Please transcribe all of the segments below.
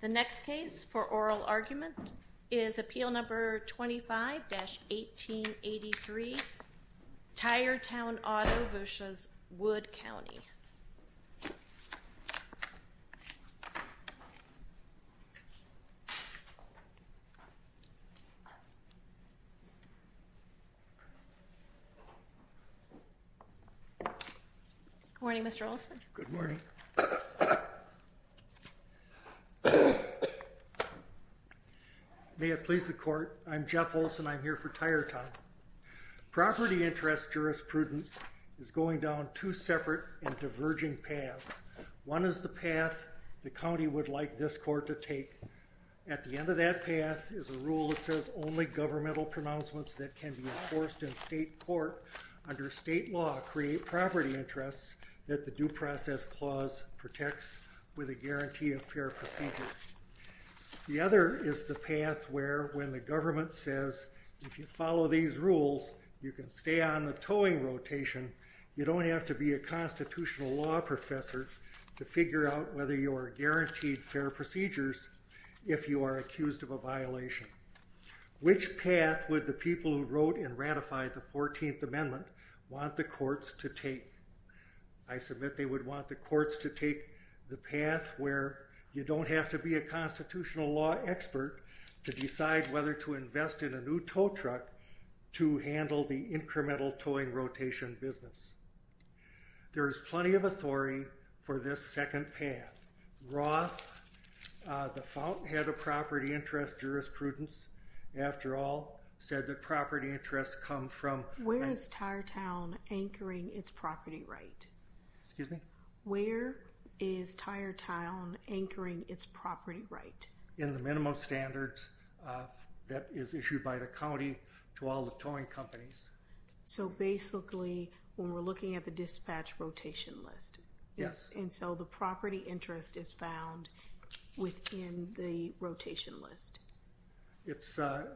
The next case for oral argument is appeal number 25-1883, Tire Town Auto v. Wood County. Good morning, Mr. Olson. Good morning. May it please the court, I'm Jeff Olson. I'm here for Tire Town. Property interest jurisprudence is going down two separate and diverging paths. One is the path the county would like this court to take. At the end of that path is a rule that says only governmental pronouncements that can be enforced in state court under state law create property interests that the Due Process Clause protects with a guarantee of fair procedure. The other is the path where when the government says if you follow these rules you can stay on the towing rotation, you don't have to be a constitutional law professor to figure out whether you are guaranteed fair procedures if you are accused of a violation. Which path would the people who wrote and ratified the 14th Amendment want the courts to take? I submit they would want the courts to take the path where you don't have to be a constitutional law expert to decide whether to invest in a new tow truck to handle the incremental towing rotation business. There is plenty of authority for this second path. Roth, the Fountainhead of Property Interest Jurisprudence, after all said that property interests come from... Where is Tire Town anchoring its property right? Excuse me? Where is Tire Town anchoring its property right? In the minimum standards that is issued by the county to all the towing companies. So basically when we're looking at the dispatch rotation list. Yes. And so the property interest is found within the rotation list. It's the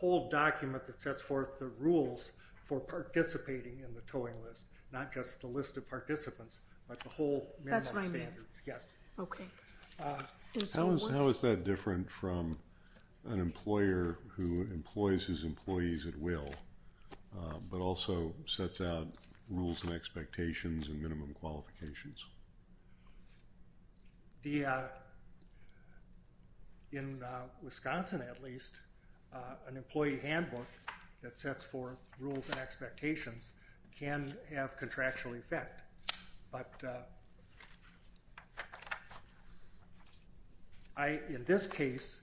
whole document that sets forth the rules for participating in the towing list, not just the list of participants, but the whole minimum standards. Yes. Okay. How is that different from an employer who employs his employees at will, but also sets out rules and expectations and minimum qualifications? In Wisconsin, at least, an employee handbook that sets forth rules and expectations can have contractual effect, but in this case,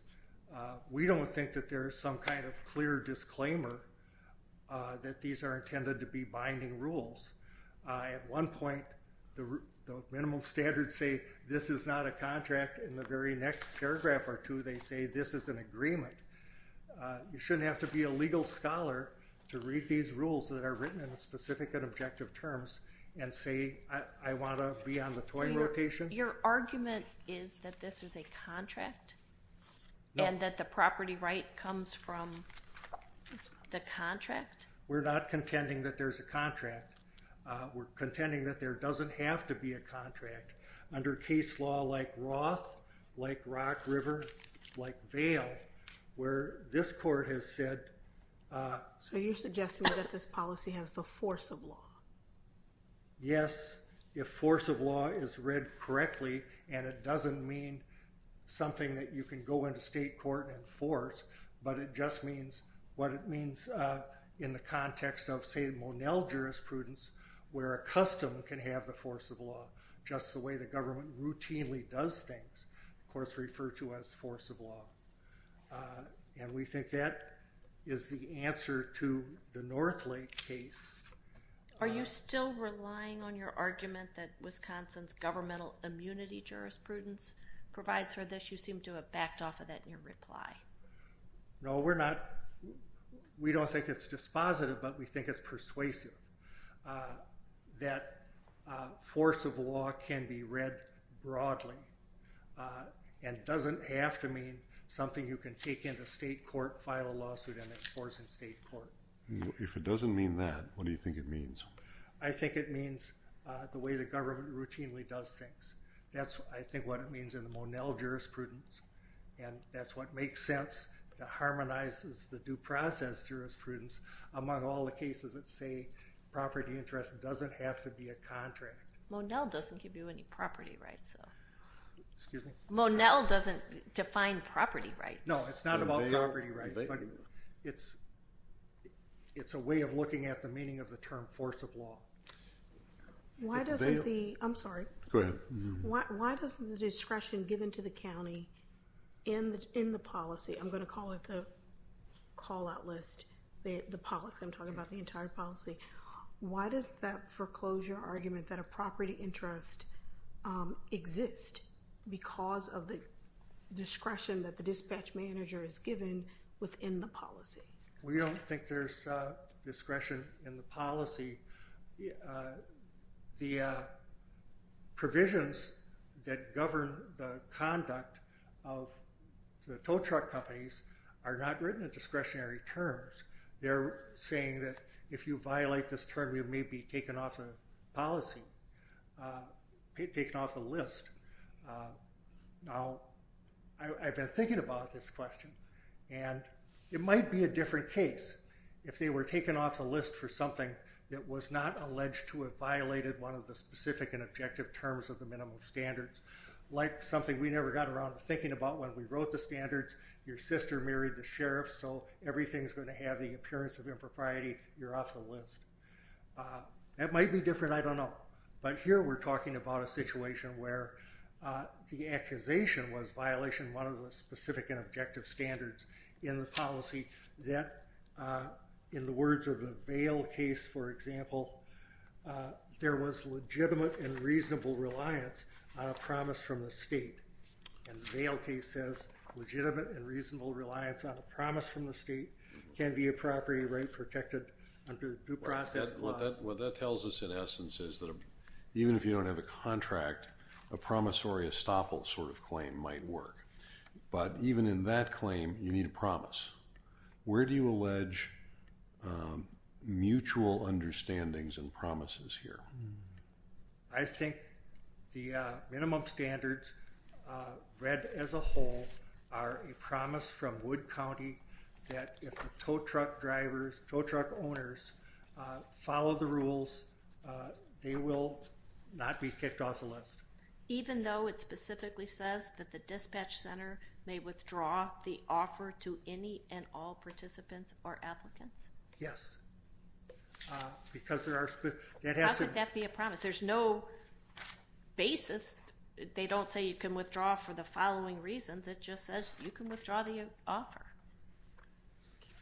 we don't think that there is some kind of clear disclaimer that these are intended to be binding rules. At one point, the minimum standards say this is not a contract. In the very next paragraph or two, they say this is an agreement. You shouldn't have to be a legal scholar to read these rules that are written in specific and objective terms and say, I want to be on the towing rotation. Your argument is that this is a contract and that the property right comes from the contract? We're not contending that there's a contract. We're contending that there doesn't have to be a contract under case law like Roth, like Rock River, like Vail, where this court has said. So you're suggesting that this policy has the force of law? Yes. If force of law is read correctly, and it doesn't mean something that you can go into state court and enforce, but it just means what it means in the context of, say, Monell jurisprudence, where a custom can have the force of law just the way the government routinely does things. The courts refer to us force of law. And we think that is the answer to the North Lake case. Are you still relying on your argument that Wisconsin's governmental immunity jurisprudence provides for this? You seem to have backed off of that in your reply. No, we're not. We don't think it's dispositive, but we think it's persuasive that force of law can be read broadly and doesn't have to mean something you can take into state court, file a lawsuit, and enforce in state court. If it doesn't mean that, what do you think it means? I think it means the way the government routinely does things. That's, I think, what it means in the Monell jurisprudence. And that's what makes sense, that harmonizes the due process jurisprudence among all the cases that say property interest doesn't have to be a contract. Monell doesn't give you any property rights, though. Excuse me? Monell doesn't define property rights. No, it's not about property rights. It's a way of looking at the meaning of the term force of law. I'm sorry. Go ahead. Why doesn't the discretion given to the county in the policy, I'm going to call it the call-out list, the policy, I'm talking about the entire policy. Why does that foreclosure argument that a property interest exists because of the discretion that the dispatch manager is given within the policy? We don't think there's discretion in the policy. The provisions that govern the conduct of the tow truck companies are not written in discretionary terms. They're saying that if you violate this term, you may be taken off the policy, taken off the list. Now, I've been thinking about this question, and it might be a different case. If they were taken off the list for something that was not alleged to have violated one of the specific and objective terms of the minimum standards, like something we never got around to thinking about when we wrote the standards, your sister married the sheriff, so everything's going to have the appearance of impropriety. You're off the list. That might be different. I don't know. But here we're talking about a situation where the accusation was violation of one of the specific and objective standards in the policy that, in the words of the Vail case, for example, there was legitimate and reasonable reliance on a promise from the state. And the Vail case says legitimate and reasonable reliance on a promise from the state can be a property right protected under due process clause. What that tells us, in essence, is that even if you don't have a contract, a promissory estoppel sort of claim might work. But even in that claim, you need a promise. Where do you allege mutual understandings and promises here? I think the minimum standards read as a whole are a promise from Wood County that if the tow truck drivers, tow truck owners follow the rules, they will not be kicked off the list. Even though it specifically says that the dispatch center may withdraw the offer to any and all participants or applicants? Yes. How could that be a promise? There's no basis. They don't say you can withdraw for the following reasons. It just says you can withdraw the offer.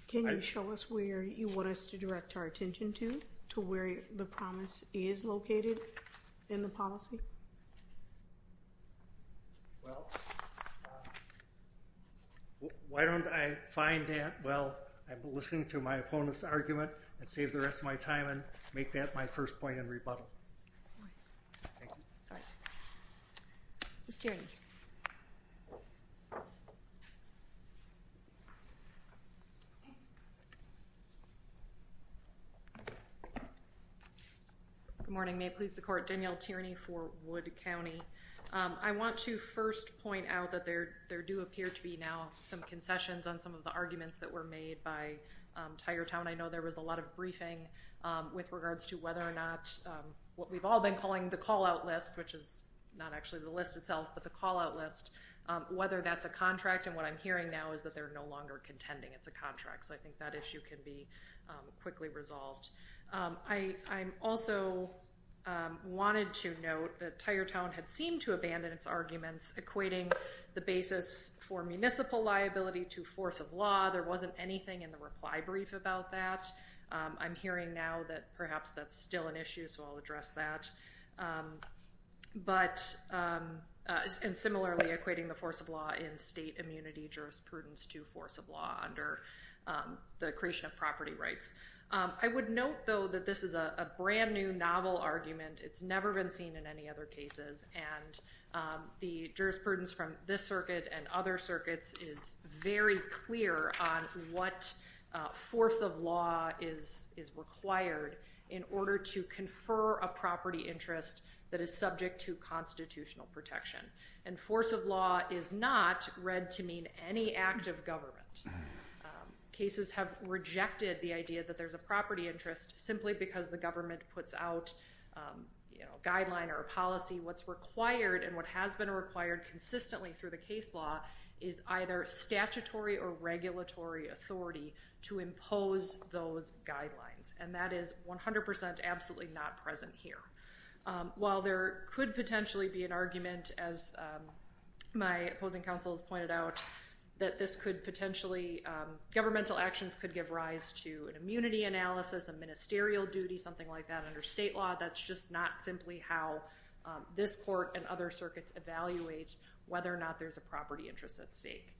Can you show us where you want us to direct our attention to, to where the promise is located in the policy? Well, why don't I find that while I'm listening to my opponent's argument and save the rest of my time and make that my first point in rebuttal. Thank you. All right. Ms. Tierney. Good morning. May it please the court. Danielle Tierney for Wood County. I want to first point out that there do appear to be now some concessions on some of the arguments that were made by Tigertown. I know there was a lot of briefing with regards to whether or not what we've all been calling the callout list, which is not actually the list itself, but the callout list, whether that's a contract. And what I'm hearing now is that they're no longer contending it's a contract. So I think that issue can be quickly resolved. I also wanted to note that Tigertown had seemed to abandon its arguments equating the basis for municipal liability to force of law. There wasn't anything in the reply brief about that. I'm hearing now that perhaps that's still an issue, so I'll address that. But similarly equating the force of law in state immunity jurisprudence to force of law under the creation of property rights. I would note, though, that this is a brand new novel argument. It's never been seen in any other cases. And the jurisprudence from this circuit and other circuits is very clear on what force of law is required in order to confer a property interest that is subject to constitutional protection. And force of law is not read to mean any act of government. Cases have rejected the idea that there's a property interest simply because the government puts out a guideline or a policy. What's required and what has been required consistently through the case law is either statutory or regulatory authority to impose those guidelines. And that is 100% absolutely not present here. While there could potentially be an argument, as my opposing counsel has pointed out, that this could potentially, governmental actions could give rise to an immunity analysis, a ministerial duty, something like that under state law, that's just not simply how this court and other circuits evaluate whether or not there's a property interest at stake.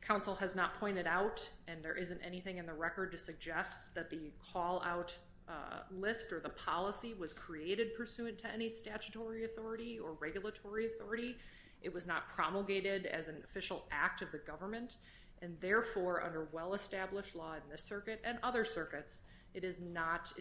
Counsel has not pointed out, and there isn't anything in the record to suggest that the call-out list or the policy was created pursuant to any statutory authority or regulatory authority. It was not promulgated as an official act of the government. And therefore, under well-established law in this circuit and other circuits, it does not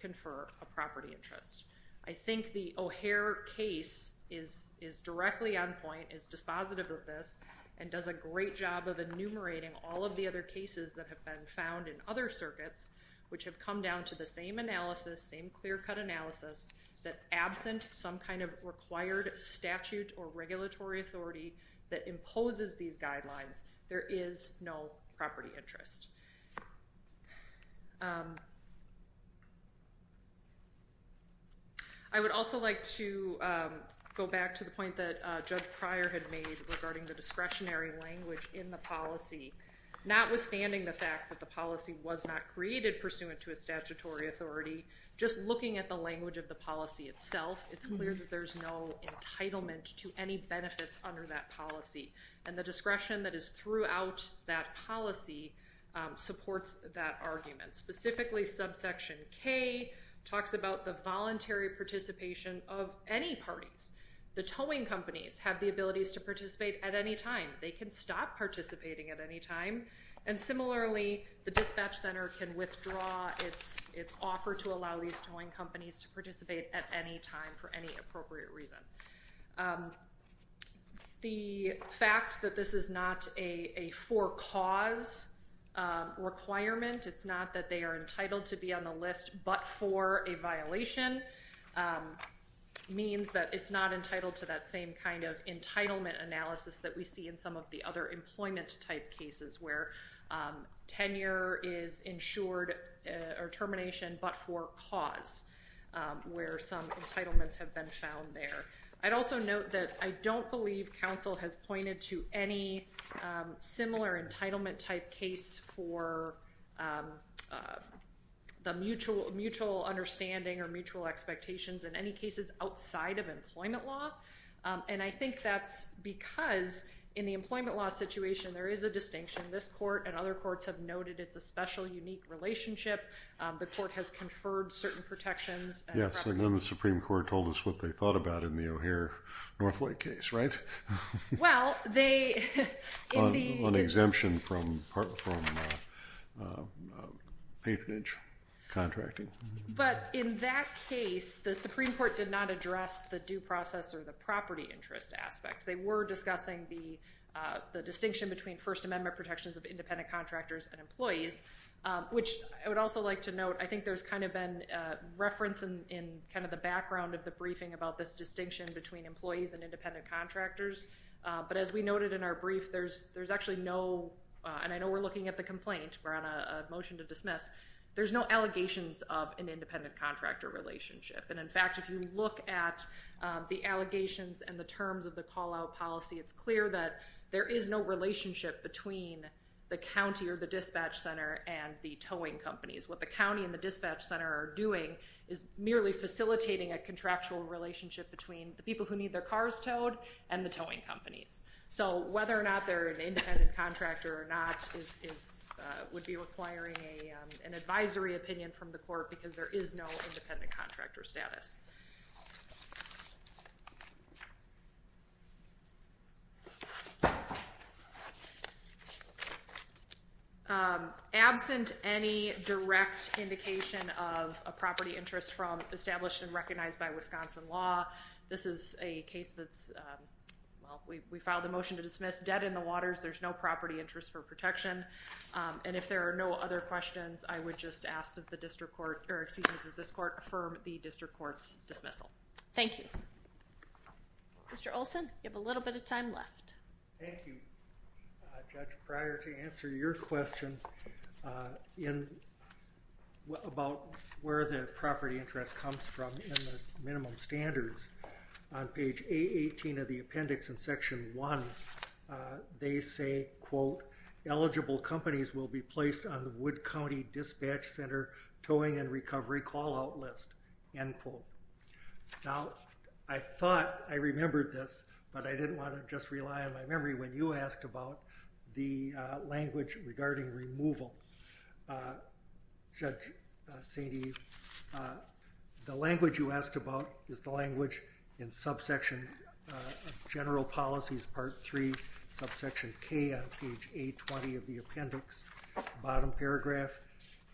confer a property interest. I think the O'Hare case is directly on point, is dispositive of this, and does a great job of enumerating all of the other cases that have been found in other circuits, which have come down to the same analysis, same clear-cut analysis, that absent some kind of required statute or regulatory authority that imposes these guidelines, there is no property interest. I would also like to go back to the point that Judge Pryor had made regarding the discretionary language in the policy. Notwithstanding the fact that the policy was not created pursuant to a statutory authority, just looking at the language of the policy itself, it's clear that there's no entitlement to any benefits under that policy. And the discretion that is throughout that policy supports that argument. Specifically, subsection K talks about the voluntary participation of any parties. The towing companies have the abilities to participate at any time. They can stop participating at any time. And similarly, the dispatch center can withdraw its offer to allow these towing companies to participate at any time for any appropriate reason. The fact that this is not a for-cause requirement, it's not that they are entitled to be on the list but for a violation, means that it's not entitled to that same kind of entitlement analysis that we see in some of the other employment-type cases, where tenure is insured or termination but for cause, where some entitlements have been found there. I'd also note that I don't believe counsel has pointed to any similar entitlement-type case for the mutual understanding or mutual expectations in any cases outside of employment law. And I think that's because in the employment law situation, there is a distinction. This court and other courts have noted it's a special, unique relationship. The court has conferred certain protections. Yes, and then the Supreme Court told us what they thought about in the O'Hare-Northlake case, right? Well, they... On exemption from patronage contracting. But in that case, the Supreme Court did not address the due process or the property interest aspect. They were discussing the distinction between First Amendment protections of independent contractors and employees, which I would also like to note, I think there's kind of been reference in kind of the background of the briefing about this distinction between employees and independent contractors. But as we noted in our brief, there's actually no... And I know we're looking at the complaint. We're on a motion to dismiss. There's no allegations of an independent contractor relationship. And in fact, if you look at the allegations and the terms of the call-out policy, it's clear that there is no relationship between the county or the dispatch center and the towing companies. What the county and the dispatch center are doing is merely facilitating a contractual relationship between the people who need their cars towed and the towing companies. So whether or not they're an independent contractor or not would be requiring an advisory opinion from the court because there is no independent contractor status. Absent any direct indication of a property interest from established and recognized by Wisconsin law, this is a case that's... Well, we filed a motion to dismiss. Debt in the waters. There's no property interest for protection. And if there are no other questions, I would just ask that the district court... Or excuse me, that this court affirm the district court's dismissal. Thank you. Mr. Olson, you have a little bit of time left. Thank you, Judge. Prior to answering your question about where the property interest comes from in the minimum standards, on page A18 of the appendix in Section 1, they say, quote, eligible companies will be placed on the Wood County Dispatch Center towing and recovery call-out list, end quote. Now, I thought I remembered this, but I didn't want to just rely on my memory when you asked about the language regarding removal. Judge Sainte-Eve, the language you asked about is the language in subsection of general policies, Part 3, subsection K on page A20 of the appendix. The bottom paragraph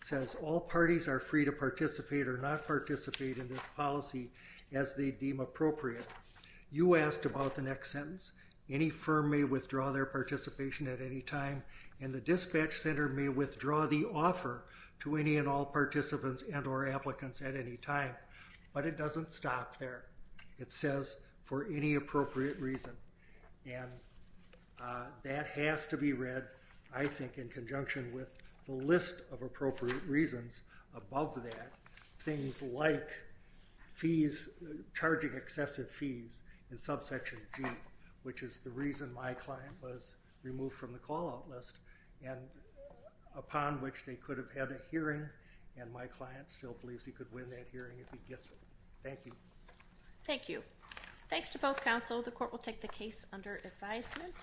says all parties are free to participate or not participate in this policy as they deem appropriate. You asked about the next sentence. Any firm may withdraw their participation at any time, and the dispatch center may withdraw the offer to any and all participants and or applicants at any time. But it doesn't stop there. It says for any appropriate reason. And that has to be read, I think, in conjunction with the list of appropriate reasons above that. Things like fees, charging excessive fees in subsection G, which is the reason my client was removed from the call-out list, and upon which they could have had a hearing, and my client still believes he could win that hearing if he gets it. Thank you. Thank you. Thanks to both counsel. The court will take the case under advisement.